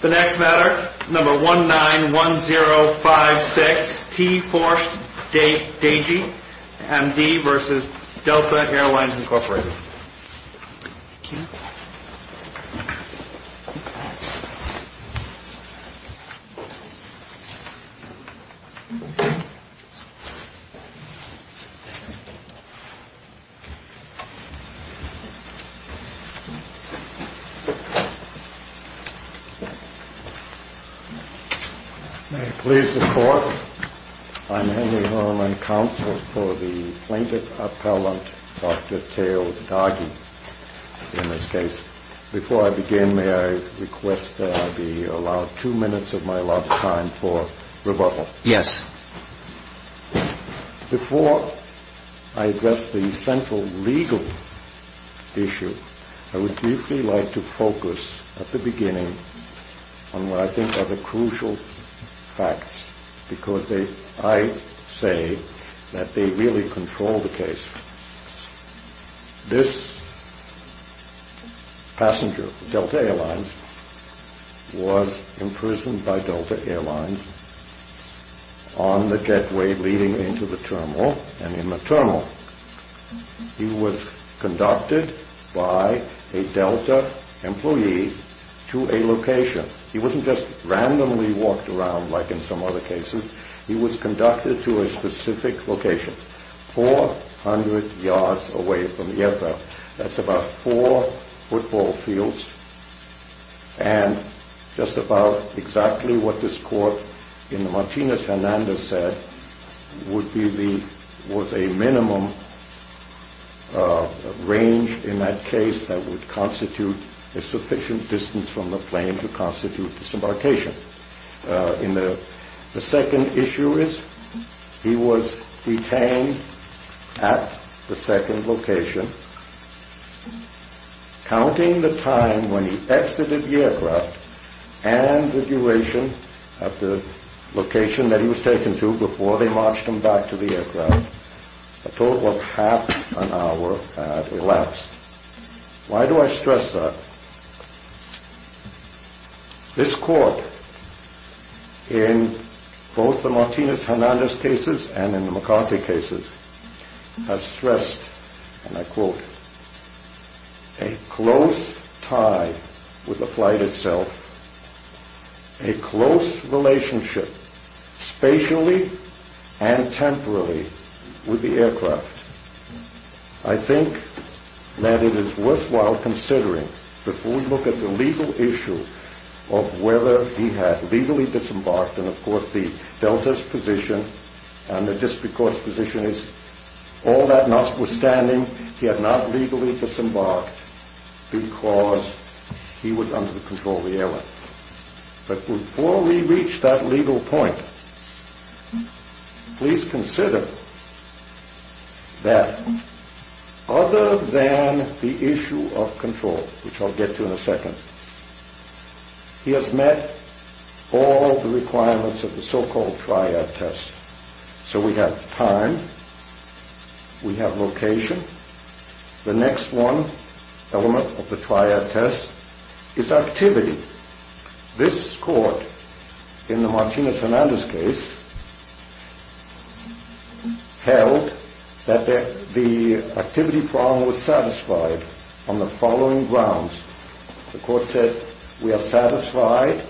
The next matter, number 191056, T-Force, Dagi, MD v. Delta Airlines, Inc. May it please the Court, I'm Henry Herman, Counsel for the Plaintiff Appellant, Dr. Theo Dagi, in this case. Before I begin, may I request that I be allowed two minutes of my allotted time for rebuttal? Yes. Before I address the central legal issue, I would briefly like to focus at the beginning on what I think are the crucial facts, because I say that they really control the case. This passenger, Delta Airlines, was imprisoned by Delta Airlines on the gateway leading into the terminal, and in the terminal he was conducted by a Delta employee to a location. He wasn't just randomly walked around like in some other cases. He was conducted to a specific location, 400 yards away from the airfield. That's about four football fields, and just about exactly what this court in the Martinez-Hernandez said was a minimum range in that case that would constitute a sufficient distance from the plane to constitute disembarkation. The second issue is he was detained at the second location, counting the time when he exited the aircraft and the duration of the location that he was taken to before they marched him back to the aircraft. A total of half an hour had elapsed. Why do I stress that? This court, in both the Martinez-Hernandez cases and in the McCarthy cases, has stressed, and I quote, a close tie with the flight itself, a close relationship spatially and temporally with the aircraft. I think that it is worthwhile considering, before we look at the legal issue of whether he had legally disembarked, and of course the Delta's position and the District Court's position is, all that notwithstanding, he had not legally disembarked because he was under the control of the airline. But before we reach that legal point, please consider that other than the issue of control, which I'll get to in a second, he has met all the requirements of the so-called triad test. So we have time, we have location, the next one element of the triad test is activity. This court, in the Martinez-Hernandez case, held that the activity problem was satisfied on the following grounds. The court said, we are satisfied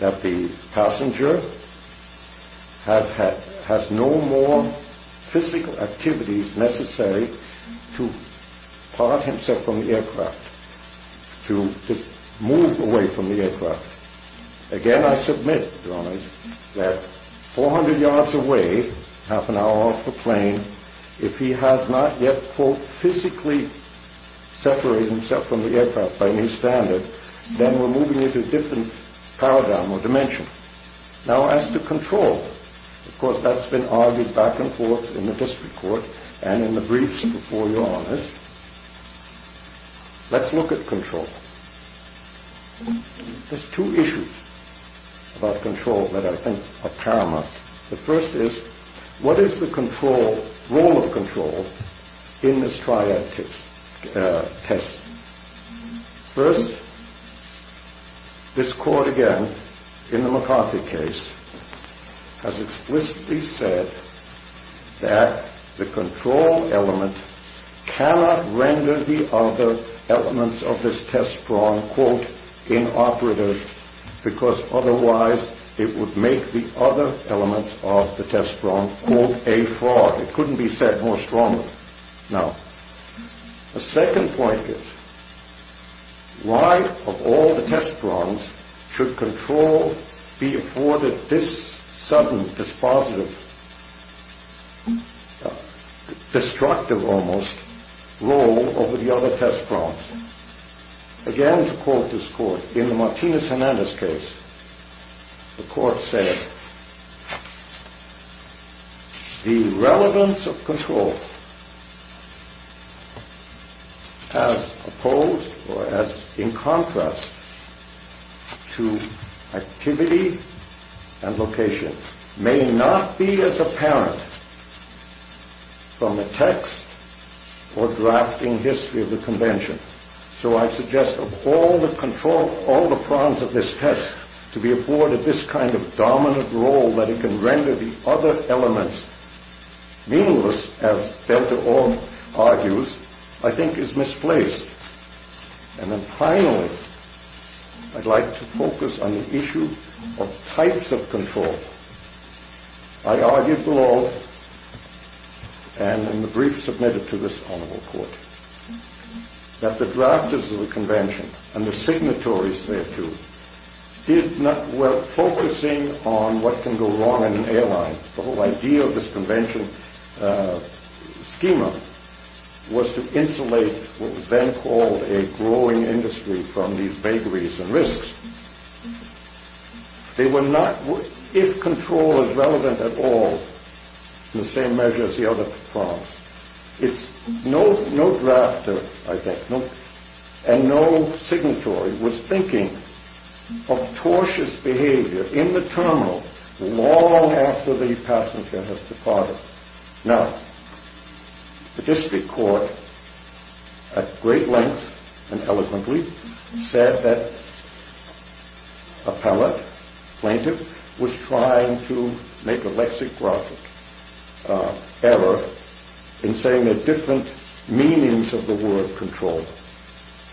that the passenger has no more physical activities necessary to part himself from the aircraft, to move away from the aircraft. Again, I submit, Your Honor, that 400 yards away, half an hour off the plane, if he has not yet, quote, physically separated himself from the aircraft by any standard, then we're moving into a different paradigm or dimension. Now as to control, of course that's been argued back and forth in the District Court and in the briefs before, Your Honor. Let's look at control. There's two issues about control that I think are paramount. The first is, what is the role of control in this triad test? First, this court again, in the McCarthy case, has explicitly said that the control element cannot render the other elements of this test prong, quote, inoperative, because otherwise it would make the other elements of the test prong, quote, a fraud. It couldn't be said more strongly. Now, the second point is, why of all the test prongs should control be afforded this sudden, dispositive, destructive almost, role over the other test prongs? Again, to quote this court, in the Martinez-Hernandez case, the court said, The relevance of control as opposed or as in contrast to activity and location may not be as apparent from the text or drafting history of the Convention. So I suggest that of all the control, all the prongs of this test to be afforded this kind of dominant role that it can render the other elements meanless, as Delta Orr argues, I think is misplaced. And then finally, I'd like to focus on the issue of types of control. I argued below, and in the brief submitted to this honorable court, that the drafters of the Convention and the signatories thereto were focusing on what can go wrong in an airline. The whole idea of this Convention schema was to insulate what was then called a growing industry from these vagaries and risks. They were not, if control is relevant at all, in the same measure as the other prongs. No drafter, I think, and no signatory was thinking of tortious behavior in the terminal long after the passenger has departed. Now, the district court at great length and eloquently said that appellate, plaintiff, was trying to make a lexicographic error in saying that different meanings of the word control.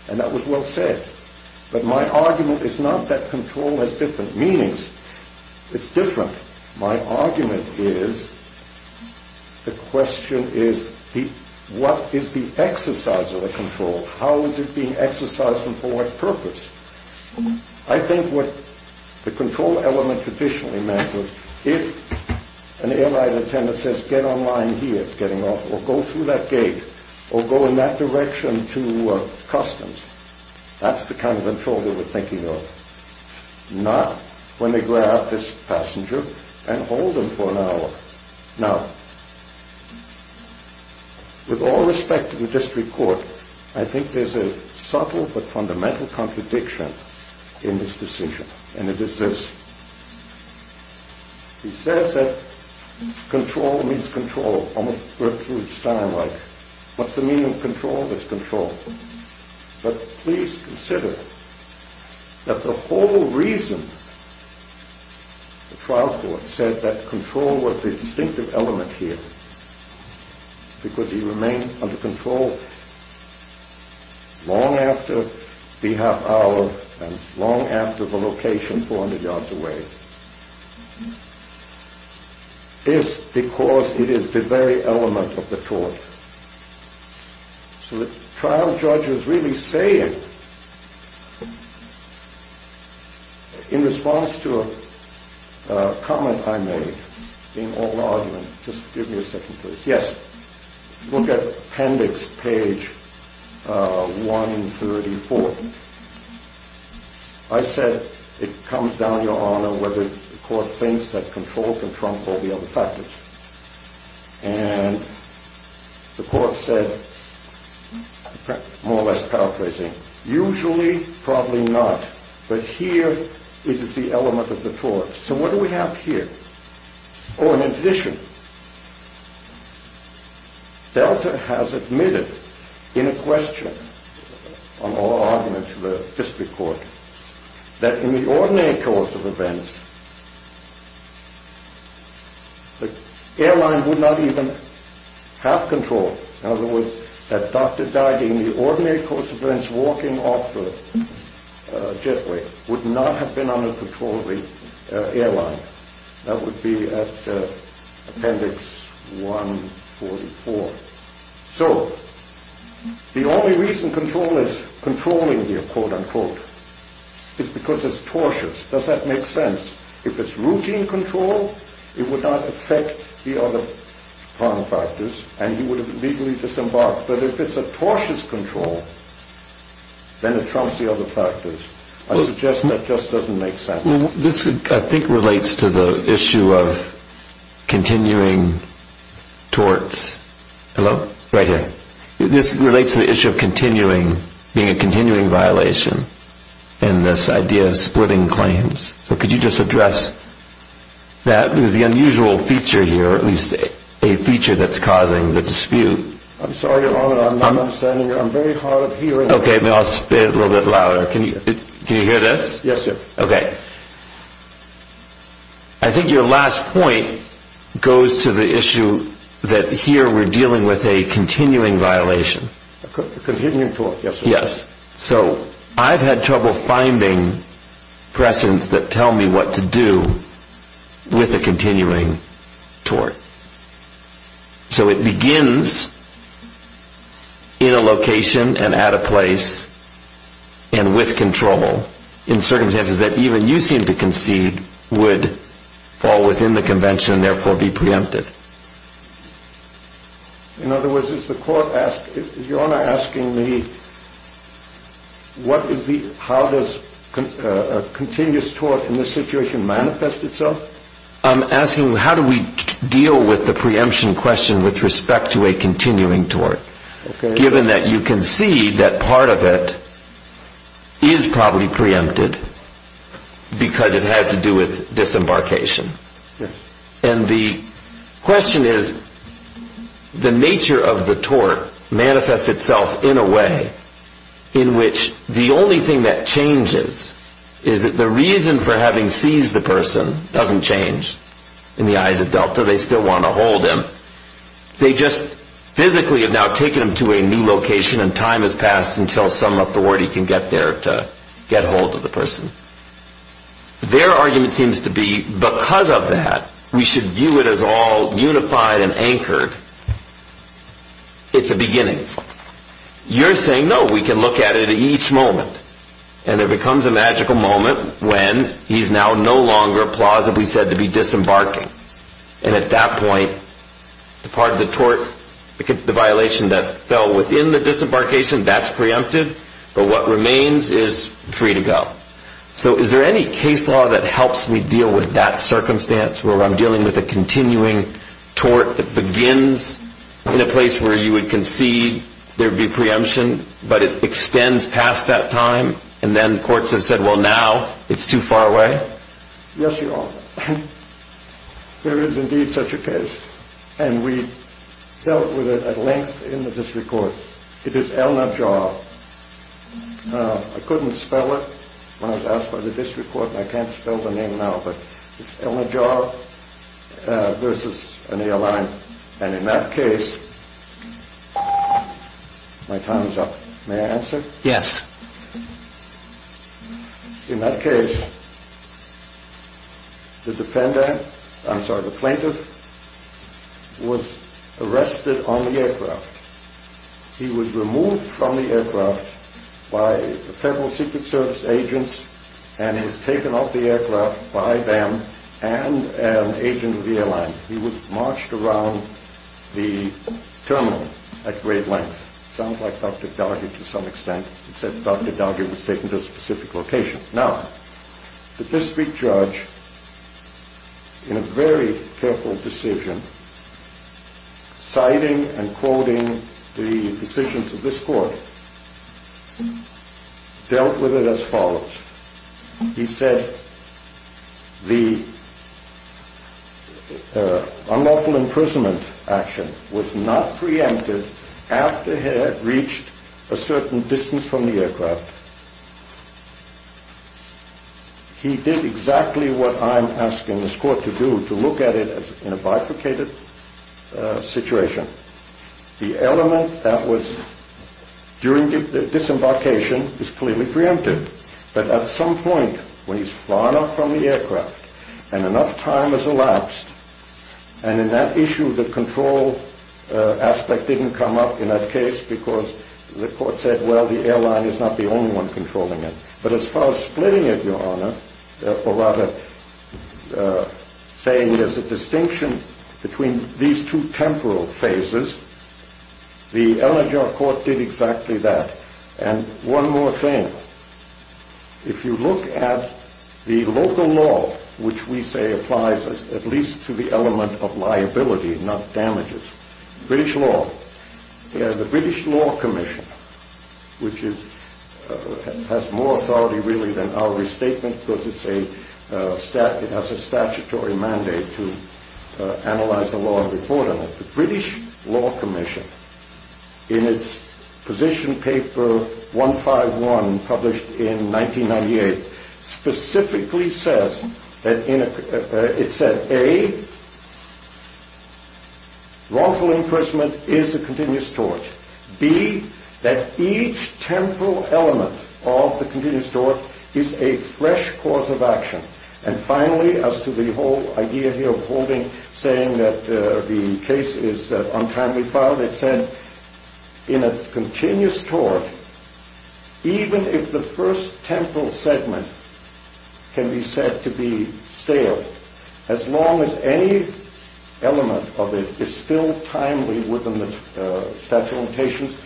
And that was well said. But my argument is not that control has different meanings. It's different. My argument is, the question is, what is the exercise of the control? How is it being exercised and for what purpose? I think what the control element traditionally meant was, if an airline attendant says, get on line here, getting off, or go through that gate, or go in that direction to customs, that's the kind of control they were thinking of. Not when they grab this passenger and hold him for an hour. Now, with all respect to the district court, I think there's a subtle but fundamental contradiction in this decision. And it is this. He says that control means control, almost Bertrude Stein like. What's the meaning of control? There's control. But please consider that the whole reason the trial court said that control was the distinctive element here, because he remained under control long after the half hour and long after the location 400 yards away, is because it is the very element of the tort. So the trial judge is really saying, in response to a comment I made, being all argument, just give me a second please. Yes, look at appendix page 134. I said it comes down to your honor whether the court thinks that control can trump all the other factors. And the court said, more or less paraphrasing, usually, probably not. But here it is the element of the tort. So what do we have here? Oh, and in addition, Delta has admitted in a question, on all arguments to the district court, that in the ordinary course of events, the airline would not even have control. In other words, that Dr. Dyding, in the ordinary course of events, walking off the jetway, would not have been under control of the airline. That would be at appendix 144. So, the only reason control is controlling here, quote unquote, is because it's tortious. Does that make sense? If it's routine control, it would not affect the other prime factors, and he would have legally disembarked. But if it's a tortious control, then it trumps the other factors. I suggest that just doesn't make sense. This, I think, relates to the issue of continuing torts. Hello? Right here. This relates to the issue of continuing, being a continuing violation, and this idea of splitting claims. So could you just address that? Because the unusual feature here, or at least a feature that's causing the dispute. I'm sorry, Your Honor. I'm not understanding. I'm very hard of hearing. Okay. I'll say it a little bit louder. Can you hear this? Yes, sir. Okay. I think your last point goes to the issue that here we're dealing with a continuing violation. A continuing tort, yes, sir. Yes. So, I've had trouble finding precedents that tell me what to do with a continuing tort. So it begins in a location and at a place and with control in circumstances that even you seem to concede would fall within the convention and therefore be preempted. In other words, is the court asking, is your Honor asking me what is the, how does a continuous tort in this situation manifest itself? I'm asking how do we deal with the preemption question with respect to a continuing tort, given that you concede that part of it is probably preempted because it had to do with disembarkation. And the question is, the nature of the tort manifests itself in a way in which the only thing that changes is that the reason for having seized the person doesn't change. In the eyes of Delta, they still want to hold him. They just physically have now taken him to a new location and time has passed until some authority can get there to get hold of the person. Their argument seems to be because of that, we should view it as all unified and anchored at the beginning. You're saying, no, we can look at it at each moment. And there becomes a magical moment when he's now no longer plausibly said to be disembarking. And at that point, the part of the tort, the violation that fell within the disembarkation, that's preempted. But what remains is free to go. So is there any case law that helps me deal with that circumstance where I'm dealing with a continuing tort that begins in a place where you would concede there would be preemption, but it extends past that time and then courts have said, well, now it's too far away. Yes, you are. There is indeed such a case. And we dealt with it at length in the district court. It is Elna Jaw. I couldn't spell it when I was asked by the district court. I can't spell the name now, but it's Elna Jaw versus an airline. And in that case, my time is up. May I answer? Yes. In that case, the defendant, I'm sorry, the plaintiff was arrested on the aircraft. He was removed from the aircraft by the Federal Secret Service agents and was taken off the aircraft by them and an agent of the airline. He was marched around the terminal at great length. Sounds like Dr. Doggett to some extent. It said Dr. Doggett was taken to a specific location. Now, the district judge, in a very careful decision, citing and quoting the decisions of this court, dealt with it as follows. He said the unlawful imprisonment action was not preempted after he had reached a certain distance from the aircraft. He did exactly what I'm asking this court to do, to look at it in a bifurcated situation. The element that was during the disembarkation is clearly preempted. But at some point, when he's far enough from the aircraft and enough time has elapsed, and in that issue, the control aspect didn't come up in that case because the court said, well, the airline is not the only one controlling it. But as far as splitting it, Your Honor, or rather saying there's a distinction between these two temporal phases, the Eleger Court did exactly that. And one more thing, if you look at the local law, which we say applies at least to the element of liability, not damages, British law, the British Law Commission, which has more authority really than our restatement because it has a statutory mandate to analyze the law and report on it. The British Law Commission, in its position paper 151, published in 1998, specifically says that it said, A, wrongful imprisonment is a continuous tort. B, that each temporal element of the continuous tort is a fresh course of action. And finally, as to the whole idea here of holding, saying that the case is untimely filed, it said, In a continuous tort, even if the first temporal segment can be said to be stale, as long as any element of it is still timely within the statute of limitations,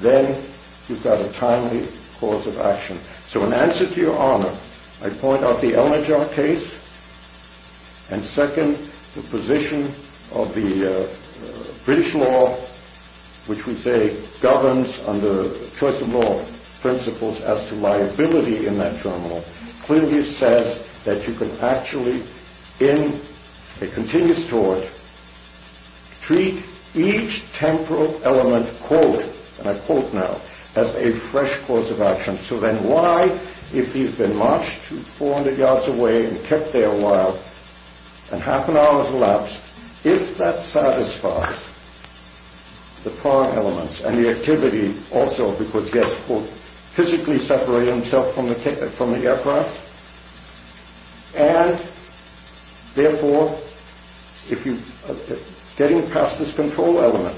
then you've got a timely course of action. So in answer to your honor, I point out the Eleger case, and second, the position of the British law, which we say governs under choice of law principles as to liability in that journal, clearly says that you can actually, in a continuous tort, treat each temporal element, quote, and I quote now, as a fresh course of action. So then why, if he's been marched 400 yards away and kept there a while, and half an hour has elapsed, if that satisfies the prior elements and the activity also, because he has, quote, physically separated himself from the aircraft, and therefore, getting past this control element,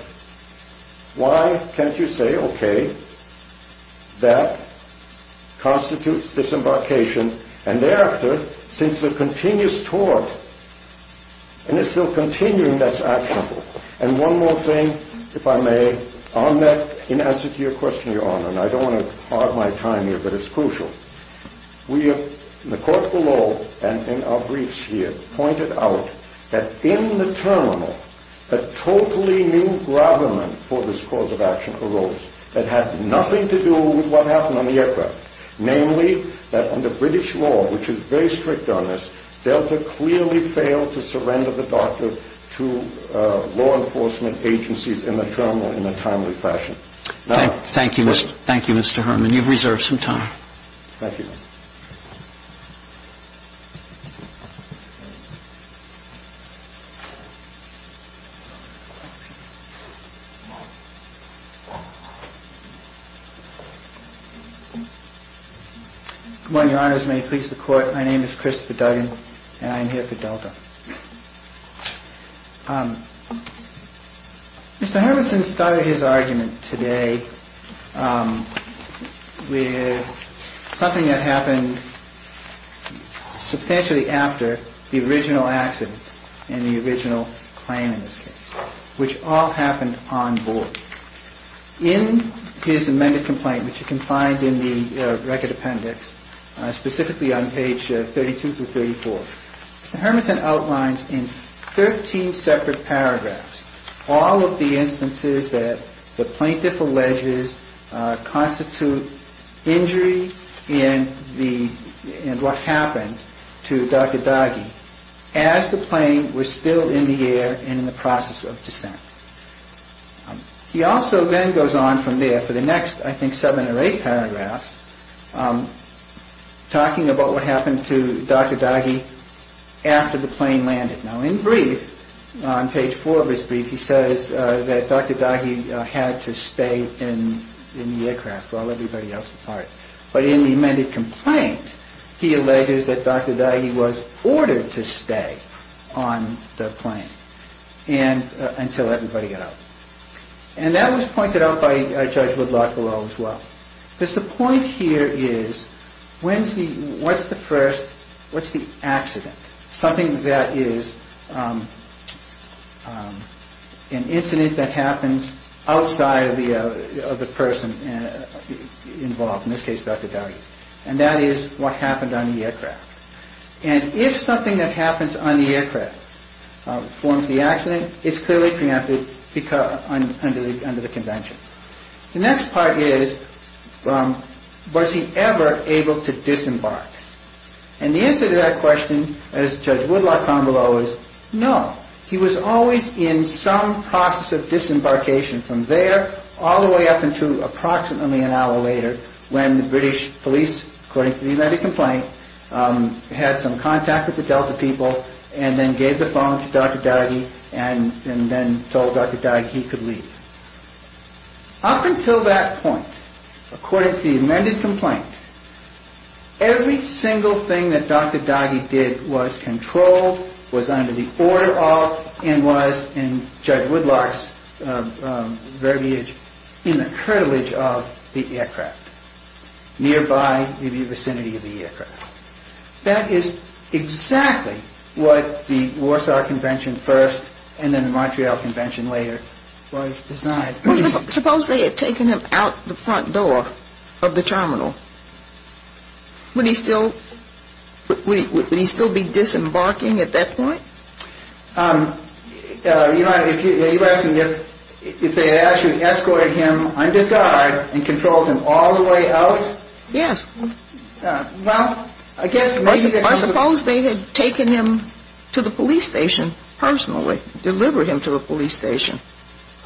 why can't you say, okay, that constitutes disembarkation, and thereafter, since the continuous tort, and it's still continuing, that's actionable. And one more thing, if I may, on that, in answer to your question, your honor, and I don't want to part my time here, but it's crucial. We have, in the court below, and in our briefs here, pointed out that in the terminal, a totally new government for this course of action arose, that had nothing to do with what happened on the aircraft, namely, that under British law, which is very strict on this, Delta clearly failed to surrender the doctor to law enforcement agencies in the terminal in a timely fashion. So, I think that's all I have to say. Thank you. Thank you, Mr. Herman. You've reserved some time. Thank you. Good morning, your honors. May it please the court. My name is Christopher Duggan, and I am here for Delta. Mr. Hermanson started his argument today with something that happened substantially after the original accident, and the original claim in this case, which all happened on board. In his amended complaint, which you can find in the record appendix, specifically on page 32 through 34, Mr. Hermanson outlines in 13 separate paragraphs all of the instances that the plaintiff alleges constitute injury and what happened to Dr. Dagi as the plane was still in the air and in the process of descent. He also then goes on from there for the next, I think, seven or eight paragraphs, talking about what happened to Dr. Dagi after the plane landed. Now, in brief, on page four of his brief, he says that Dr. Dagi had to stay in the aircraft while everybody else departed. But in the amended complaint, he alleges that Dr. Dagi was ordered to stay on the plane until everybody got out. And that was pointed out by Judge Woodlock below as well. Because the point here is, what's the first, what's the accident? Something that is an incident that happens outside of the person involved, in this case Dr. Dagi. And that is what happened on the aircraft. And if something that happens on the aircraft forms the accident, it's clearly preempted under the convention. The next part is, was he ever able to disembark? And the answer to that question, as Judge Woodlock found below, is no. He was always in some process of disembarkation from there all the way up until approximately an hour later, when the British police, according to the amended complaint, had some contact with the Delta people and then gave the phone to Dr. Dagi and then told Dr. Dagi he could leave. Up until that point, according to the amended complaint, every single thing that Dr. Dagi did was controlled, was under the order of, and was, in Judge Woodlock's verbiage, in the curtilage of the aircraft. Nearby the vicinity of the aircraft. That is exactly what the Warsaw Convention first and then the Montreal Convention later was designed. Suppose they had taken him out the front door of the terminal. Would he still be disembarking at that point? You're asking if they had actually escorted him under guard and controlled him all the way out? Yes. I suppose they had taken him to the police station personally, delivered him to the police station.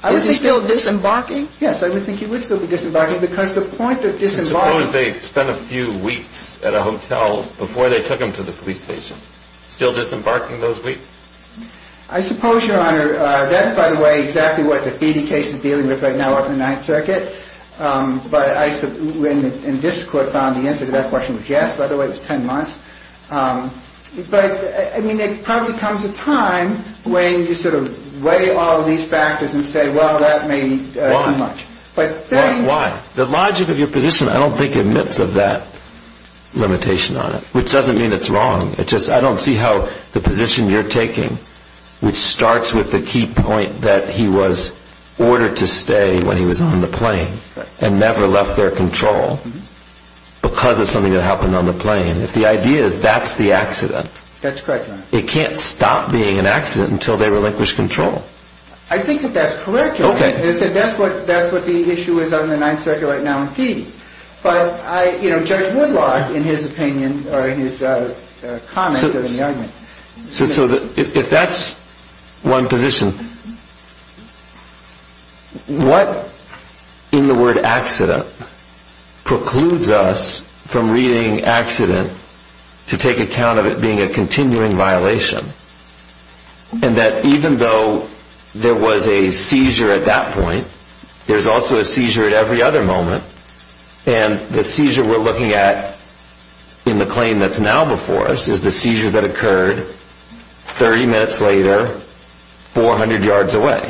Is he still disembarking? Yes, I would think he would still be disembarking because the point of disembarking... Suppose they spent a few weeks at a hotel before they took him to the police station. Still disembarking those weeks? I suppose, Your Honor, that's, by the way, exactly what the feeding case is dealing with right now up in the Ninth Circuit. But when the district court found the answer to that question was yes, by the way, it was ten months. But, I mean, there probably comes a time when you sort of weigh all of these factors and say, well, that may be too much. Why? The logic of your position, I don't think, admits of that limitation on it, which doesn't mean it's wrong. I don't see how the position you're taking, which starts with the key point that he was ordered to stay when he was on the plane and never left their control because of something that happened on the plane, if the idea is that's the accident. That's correct, Your Honor. It can't stop being an accident until they relinquish control. I think that that's correct, Your Honor. Okay. And I said that's what the issue is on the Ninth Circuit right now in feeding. But, you know, Judge Woodlock, in his opinion, or in his comment on the argument. So if that's one position, what in the word accident precludes us from reading accident to take account of it being a continuing violation and that even though there was a seizure at that point, there's also a seizure at every other moment. And the seizure we're looking at in the plane that's now before us is the seizure that occurred 30 minutes later, 400 yards away.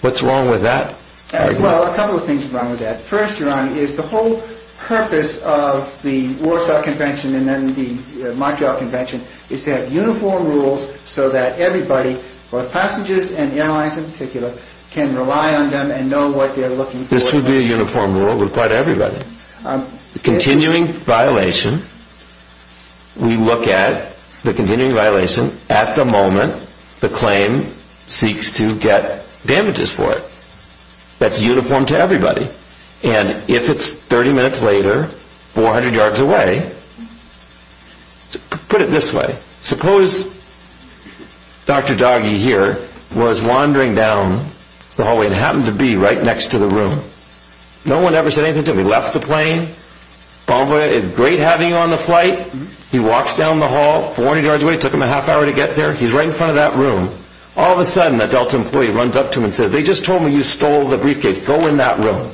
What's wrong with that argument? Well, a couple of things are wrong with that. First, Your Honor, is the whole purpose of the Warsaw Convention and then the Montreal Convention is to have uniform rules so that everybody, both passengers and airlines in particular, can rely on them and know what they're looking for. This would be a uniform rule with quite everybody. Continuing violation, we look at the continuing violation at the moment the claim seeks to get damages for it. That's uniform to everybody. And if it's 30 minutes later, 400 yards away, put it this way. Suppose Dr. Doggie here was wandering down the hallway and happened to be right next to the room. No one ever said anything to him. He left the plane, great having you on the flight. He walks down the hall, 40 yards away, took him a half hour to get there. He's right in front of that room. All of a sudden, that Delta employee runs up to him and says, they just told me you stole the briefcase. Go in that room.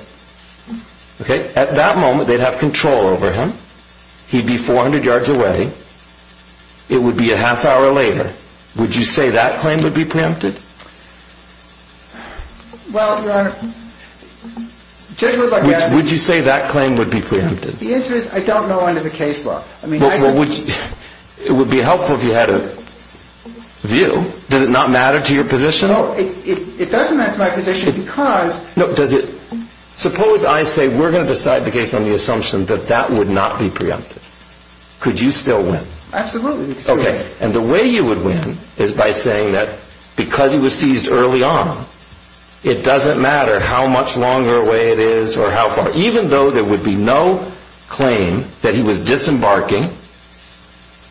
At that moment, they'd have control over him. He'd be 400 yards away. It would be a half hour later. Would you say that claim would be preempted? Well, Your Honor. Would you say that claim would be preempted? The answer is I don't know under the case law. It would be helpful if you had a view. Does it not matter to your position? It doesn't matter to my position because... Suppose I say we're going to decide the case on the assumption that that would not be preempted. Could you still win? Absolutely. And the way you would win is by saying that because he was seized early on, it doesn't matter how much longer away it is or how far, even though there would be no claim that he was disembarking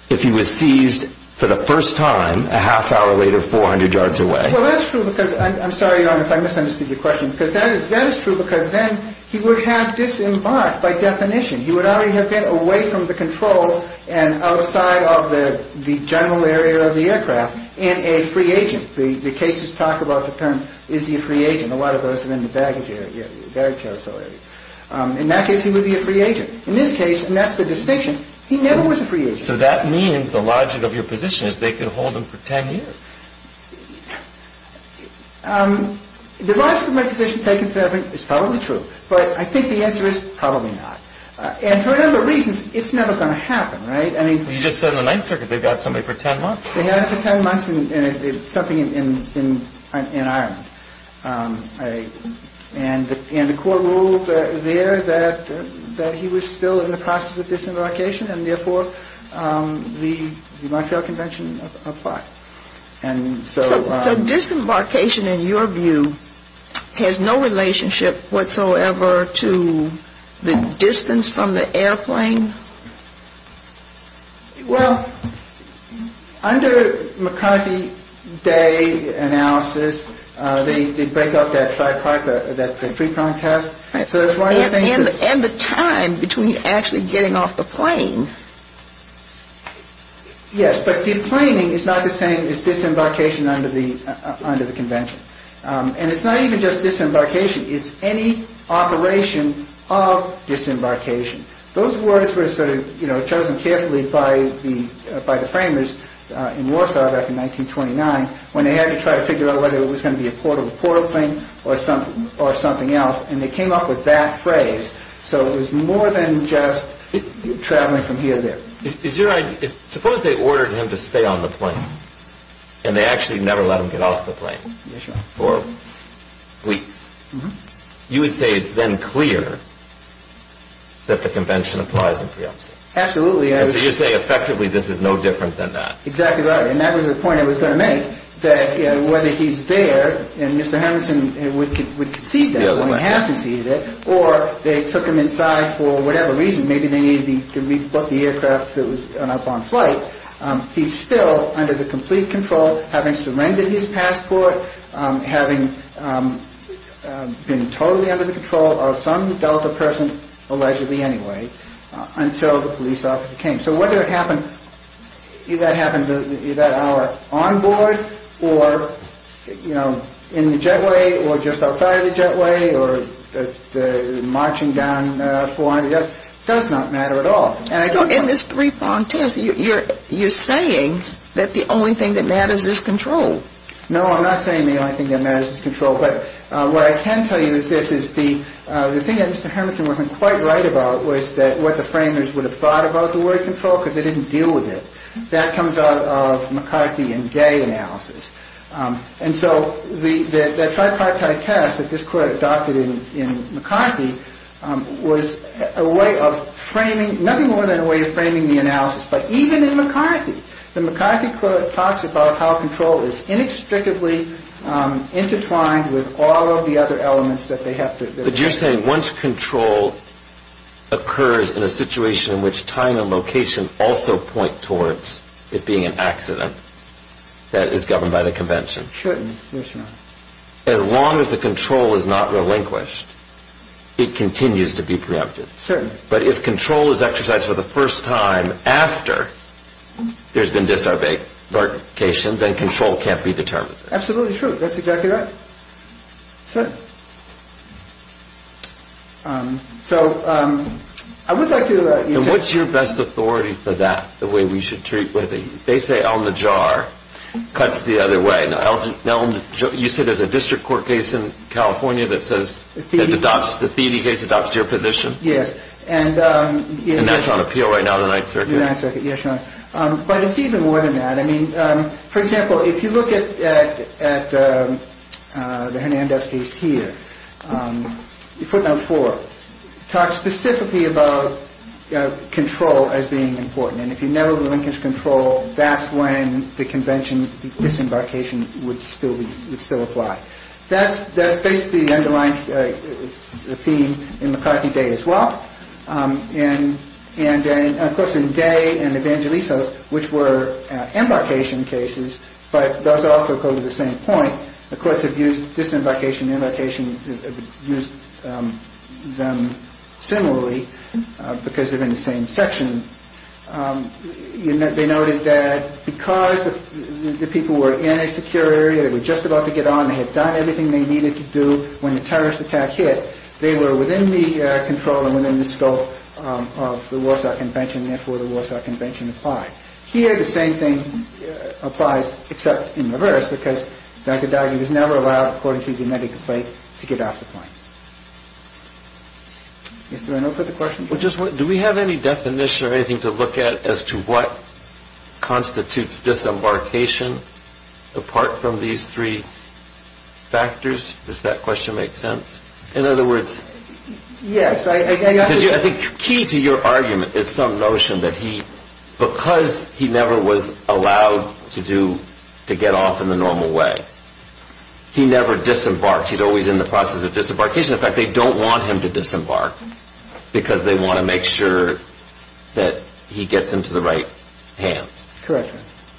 if he was seized for the first time, a half hour later, 400 yards away. Well, that's true because... I'm sorry, Your Honor, if I misunderstood your question. That is true because then he would have disembarked by definition. He would already have been away from the control and outside of the general area of the aircraft in a free agent. The cases talk about the term, is he a free agent? And a lot of those are in the baggage area, baggage household area. In that case, he would be a free agent. In this case, and that's the distinction, he never was a free agent. So that means the logic of your position is they could hold him for 10 years. The logic of my position is probably true, but I think the answer is probably not. And for a number of reasons, it's never going to happen, right? You just said in the Ninth Circuit they got somebody for 10 months. They had him for 10 months in something in Ireland. And the court ruled there that he was still in the process of disembarkation, and therefore the Montreal Convention applied. So disembarkation, in your view, has no relationship whatsoever to the distance from the airplane? Well, under McCarthy Day analysis, they break up that tripartite, that three-pronged test. And the time between actually getting off the plane. Yes, but the planning is not the same as disembarkation under the Convention. And it's not even just disembarkation. It's any operation of disembarkation. Those words were chosen carefully by the framers in Warsaw back in 1929 when they had to try to figure out whether it was going to be a portal-to-portal thing or something else. And they came up with that phrase. So it was more than just traveling from here to there. Suppose they ordered him to stay on the plane, and they actually never let him get off the plane for weeks. You would say it's then clear that the Convention applies in reality? Absolutely. So you say effectively this is no different than that? Exactly right. And that was the point I was going to make, that whether he's there, and Mr. Hamilton would concede that when he has conceded it, or they took him inside for whatever reason. Maybe they needed to rebook the aircraft so it was up on flight. He's still under the complete control, having surrendered his passport, having been totally under the control of some Delta person, allegedly anyway, until the police officer came. So whether it happened that hour on board, or in the jetway, or just outside of the jetway, or marching down 400 yards, it does not matter at all. So in this three-pronged test, you're saying that the only thing that matters is control? No, I'm not saying the only thing that matters is control. But what I can tell you is this, is the thing that Mr. Hamilton wasn't quite right about was that what the framers would have thought about the word control, because they didn't deal with it. That comes out of McCarthy and Gay analysis. And so the tripartite test that this court adopted in McCarthy was a way of framing, nothing more than a way of framing the analysis. But even in McCarthy, the McCarthy court talks about how control is inextricably intertwined with all of the other elements that they have to... But you're saying once control occurs in a situation in which time and location also point towards it being an accident, that it's governed by the convention. It shouldn't. As long as the control is not relinquished, it continues to be preempted. Certainly. But if control is exercised for the first time after there's been disarticulation, then control can't be determined. Absolutely true. That's exactly right. And what's your best authority for that, the way we should treat with it? They say on the jar, cuts the other way. You said there's a district court case in California that says, The Theody case adopts your position? Yes. And that's on appeal right now in the Ninth Circuit? In the Ninth Circuit, yes, Your Honor. But it's even more than that. For example, if you look at the Hernandez case here, footnote four, talks specifically about control as being important. And if you never relinquish control, that's when the convention disembarkation would still apply. That's basically the underlying theme in McCarthy Day as well. And of course, in Day and Evangelistos, which were embarkation cases, but those also go to the same point. The courts have used disembarkation and embarkation, used them similarly, because they're in the same section. They noted that because the people were in a secure area, they were just about to get on, they had done everything they needed to do, when the terrorist attack hit, they were within the control and within the scope of the Warsaw Convention, and therefore the Warsaw Convention applied. Here, the same thing applies, except in reverse, because Dr. Daugherty was never allowed, according to the medical plate, to get off the plane. Is there another question? Do we have any definition or anything to look at as to what constitutes disembarkation apart from these three factors? Does that question make sense? In other words, I think the key to your argument is some notion that he, because he never was allowed to get off in the normal way, he never disembarked. He's always in the process of disembarkation. In fact, they don't want him to disembark, because they want to make sure that he gets into the right hands. Correct.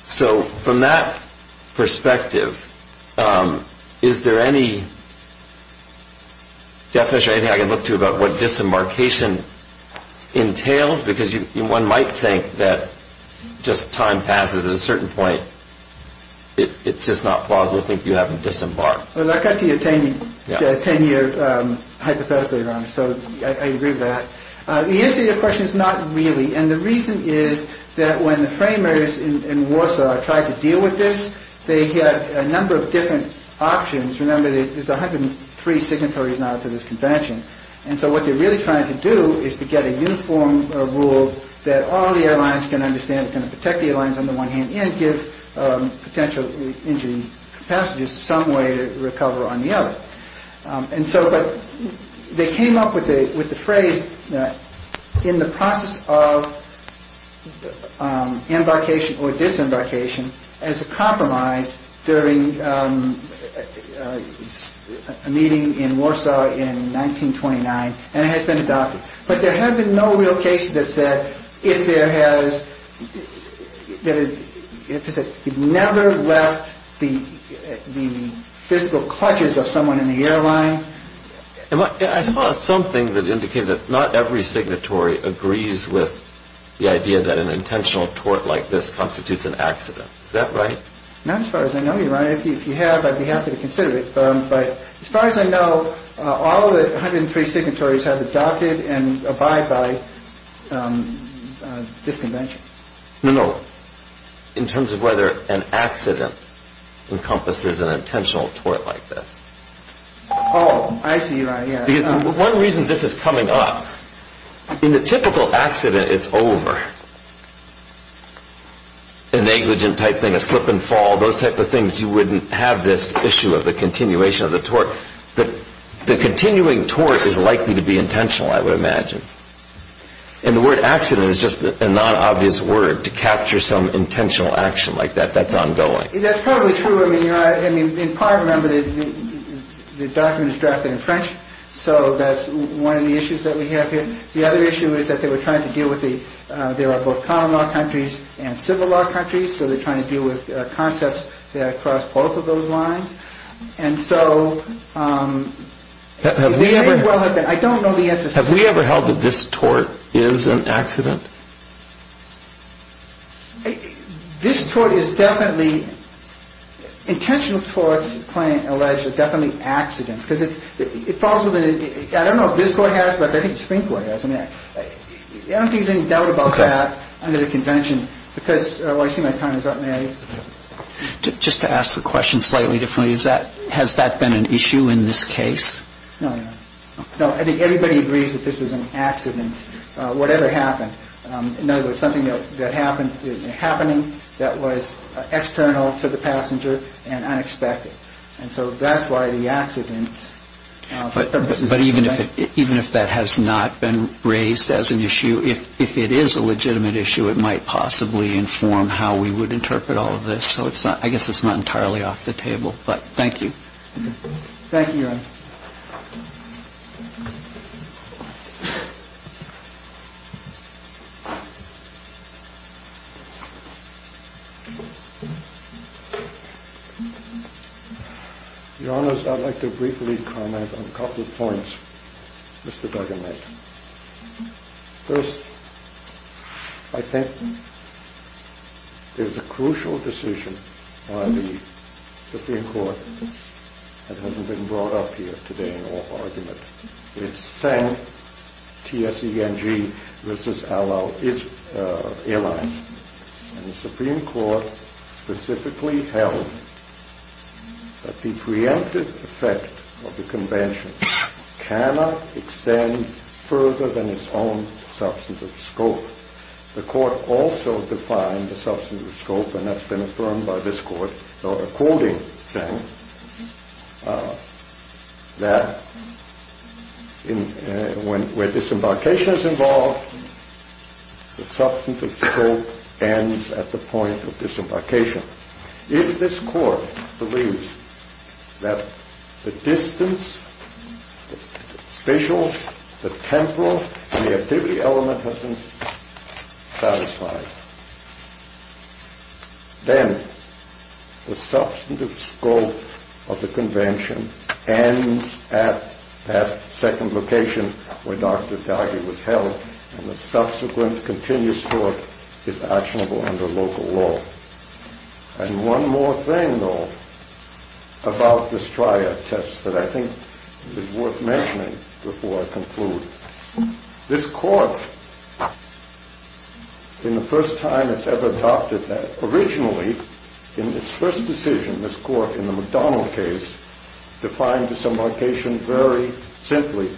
So, from that perspective, is there any definition or anything I can look to about what disembarkation entails? Because one might think that just time passes. At a certain point, it's just not plausible to think you haven't disembarked. I'll cut to your 10-year hypothetical, Your Honor, so I agree with that. The answer to your question is not really, and the reason is that when the framers in Warsaw tried to deal with this, they had a number of different options. Remember, there's 103 signatories now to this convention. And so what they're really trying to do is to get a uniform rule that all the airlines can understand, can protect the airlines on the one hand, and give potential injured passengers some way to recover on the other. But they came up with the phrase, in the process of embarkation or disembarkation, as a compromise during a meeting in Warsaw in 1929, and it has been adopted. It never left the physical clutches of someone in the airline. I saw something that indicated that not every signatory agrees with the idea that an intentional tort like this constitutes an accident. Is that right? Not as far as I know you, Your Honor. If you have, I'd be happy to consider it. But as far as I know, all of the 103 signatories have adopted and abide by this convention. No, no. In terms of whether an accident encompasses an intentional tort like this. Oh, I see your idea. Because one reason this is coming up, in a typical accident it's over. A negligent type thing, a slip and fall, those type of things you wouldn't have this issue of the continuation of the tort. The continuing tort is likely to be intentional, I would imagine. And the word accident is just a non-obvious word to capture some intentional action like that. That's ongoing. That's probably true. In part, remember, the document is drafted in French, so that's one of the issues that we have here. The other issue is that they were trying to deal with the, there are both common law countries and civil law countries, so they're trying to deal with concepts that cross both of those lines. And so, I don't know the answer to that. Have we ever held that this tort is an accident? This tort is definitely, intentional torts, the client alleged, are definitely accidents. Because it falls within, I don't know if this court has, but I think the Supreme Court has. I don't think there's any doubt about that under the convention. Because, oh, I see my time is up. Just to ask the question slightly differently, has that been an issue in this case? No, no. No, I think everybody agrees that this was an accident, whatever happened. No, there was something that happened, happening that was external to the passenger and unexpected. And so that's why the accident. But even if that has not been raised as an issue, if it is a legitimate issue, it might possibly inform how we would interpret all of this. So I guess it's not entirely off the table. But thank you. Thank you, Your Honor. Your Honors, I'd like to briefly comment on a couple of points, Mr. Duggan. First, I think there's a crucial decision on the Supreme Court that hasn't been brought up here today in all argument. It's Seng, T-S-E-N-G, versus A-L-L, its allies. And the Supreme Court specifically held that the preemptive effect of the convention cannot extend further than its own substantive scope. The Court also defined the substantive scope, and that's been affirmed by this Court, though according, Seng, that where disembarkation is involved, the substantive scope ends at the point of disembarkation. If this Court believes that the distance, the facials, the temporal, and the activity element have been satisfied, then the substantive scope of the convention ends at that second location where Dr. Duggan was held, and the subsequent continuous Court is actionable under local law. And one more thing, though, about this trial test that I think is worth mentioning before I conclude. This Court, in the first time it's ever adopted that, originally, in its first decision, this Court, in the McDonald case, defined disembarkation very simply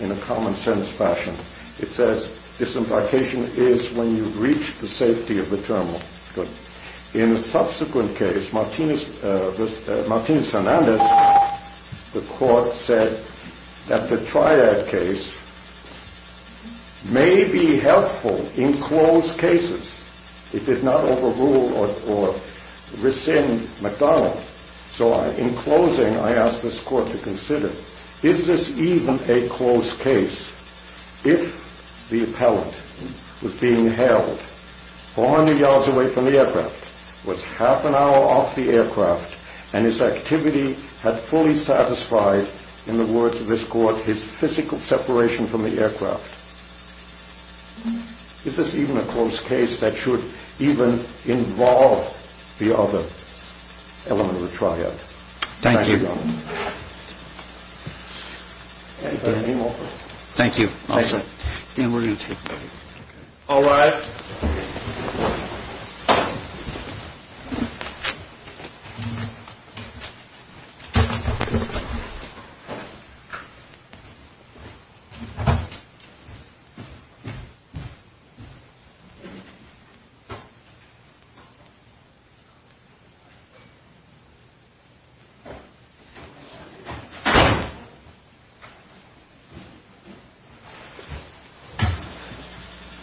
in a common-sense fashion. It says disembarkation is when you reach the safety of the terminal. In the subsequent case, Martinez-Hernandez, the Court said that the triad case may be helpful in closed cases. It did not overrule or rescind McDonald. So in closing, I ask this Court to consider, is this even a closed case if the appellant was being held 400 yards away from the aircraft, was half an hour off the aircraft, and his activity had fully satisfied, in the words of this Court, his physical separation from the aircraft? Is this even a closed case that should even involve the other element of the triad? Thank you. Thank you. All rise. Thank you.